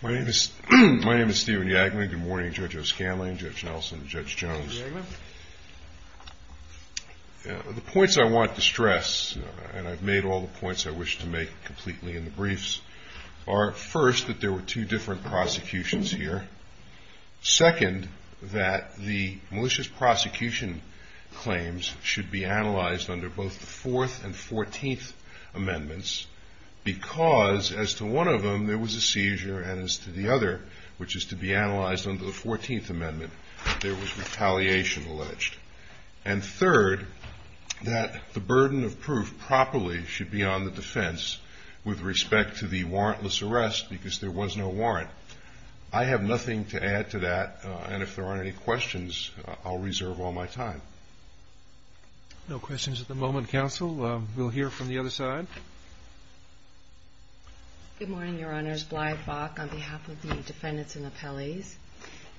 My name is Stephen Yagman. Good morning, Judge O'Scanlan, Judge Nelson, and Judge Jones. The points I want to stress, and I've made all the points I wish to make completely in the briefs, are, first, that there were two different prosecutions here. Second, that the malicious prosecution claims should be analyzed under both the Fourth and as to one of them, there was a seizure, and as to the other, which is to be analyzed under the Fourteenth Amendment, there was retaliation alleged. And third, that the burden of proof properly should be on the defense with respect to the warrantless arrest, because there was no warrant. I have nothing to add to that, and if there aren't any questions, I'll reserve all my time. No questions at the moment, counsel. We'll hear from the other side. Good morning, Your Honors. Blythe Bock on behalf of the defendants and appellees.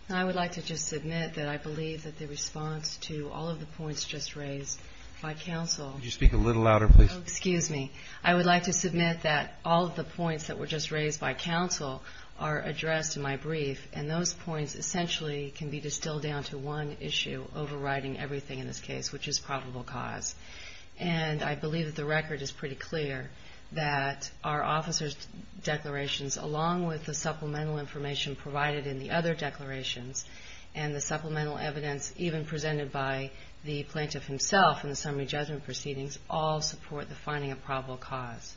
I would like to just submit that I believe that the response to all of the points just raised by counsel Could you speak a little louder, please? Oh, excuse me. I would like to submit that all of the points that were just raised by counsel are addressed in my brief, and those points essentially can be distilled down to one issue overriding everything in this case, which is probable cause. And I believe that the record is pretty clear that our officer's declarations, along with the supplemental information provided in the other declarations and the supplemental evidence even presented by the plaintiff himself in the summary judgment proceedings, all support the finding of probable cause.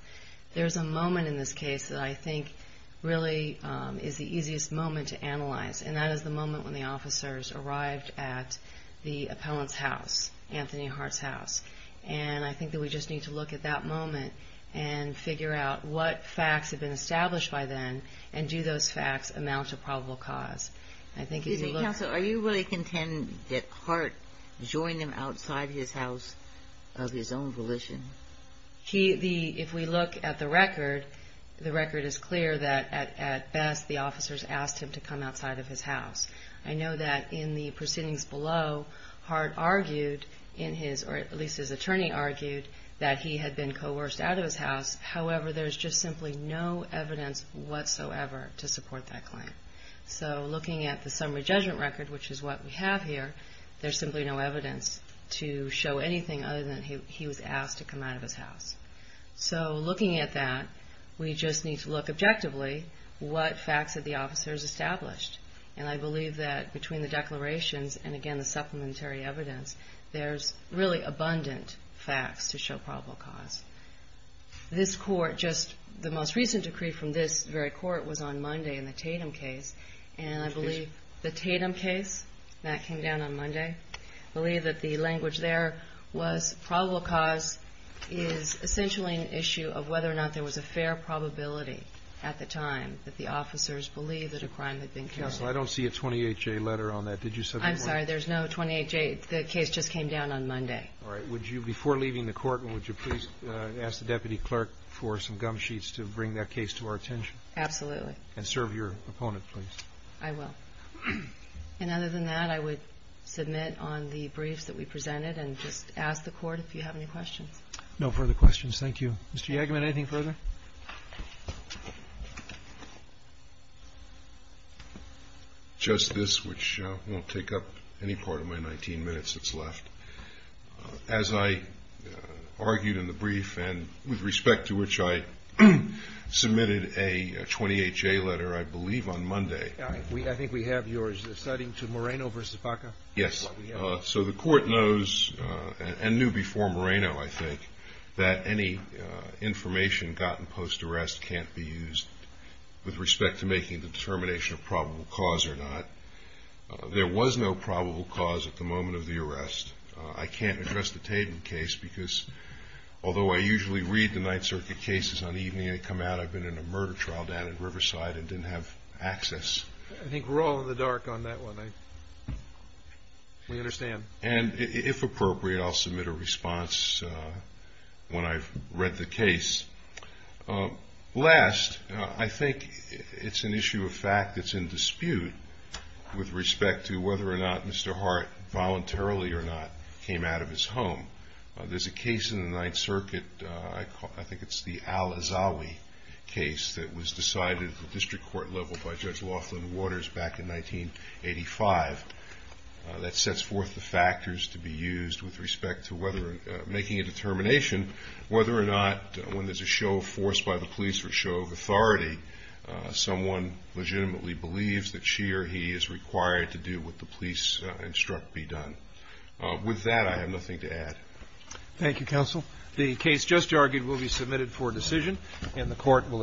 There's a moment in this case that I think really is the easiest moment to analyze, and that is the moment when the officers arrived at the appellant's house, Anthony Hart's house. And I think that we just need to look at that moment and figure out what facts have been established by then and do those facts amount to probable cause. Excuse me, counsel. Are you really content that Hart joined them outside his house of his own volition? If we look at the record, the record is clear that at best the officers asked him to come outside of his house. I know that in the proceedings below, Hart argued, or at least his attorney argued, that he had been coerced out of his house. However, there's just simply no evidence whatsoever to support that claim. So looking at the summary judgment record, which is what we have here, there's simply no evidence to show anything other than he was asked to come out of his house. So looking at that, we just need to look objectively what facts have the officers established. And I believe that between the declarations and, again, the supplementary evidence, there's really abundant facts to show probable cause. This court, just the most recent decree from this very court was on Monday in the Tatum case, and I believe the Tatum case, that came down on Monday, I believe that the language there was probable cause is essentially an issue of whether or not there was a fair probability at the time that the officers believed that a crime had been committed. Counsel, I don't see a 28-J letter on that. Did you submit one? I'm sorry. There's no 28-J. The case just came down on Monday. All right. Would you, before leaving the court, would you please ask the deputy clerk for some gum sheets to bring that case to our attention? Absolutely. And serve your opponent, please. I will. And other than that, I would submit on the briefs that we presented and just ask the court if you have any questions. No further questions. Thank you. Mr. Yageman, anything further? Just this, which won't take up any part of my 19 minutes that's left. As I argued in the brief and with respect to which I submitted a 28-J letter, I believe, on Monday. I think we have yours. The citing to Moreno v. Baca? Yes. So the court knows, and knew before Moreno, I think, that any information gotten post-arrest can't be used with respect to making the determination of probable cause or not. There was no probable cause at the moment of the arrest. I can't address the Tayden case because, although I usually read the Ninth Circuit cases on the evening they come out, I've been in a murder trial down in Riverside and didn't have access. I think we're all in the dark on that one. We understand. And if appropriate, I'll submit a response when I've read the case. Last, I think it's an issue of fact that's in dispute with respect to whether or not Mr. Hart voluntarily or not came out of his home. There's a case in the Ninth Circuit, I think it's the Al-Azawi case, that was decided at the district court level by Judge Laughlin Waters back in 1985, that sets forth the factors to be used with respect to making a determination whether or not when there's a show of force by the police or a show of authority, someone legitimately believes that she or he is required to do what the police instruct be done. With that, I have nothing to add. Thank you, Counsel. The case just argued will be submitted for decision, and the Court will adjourn.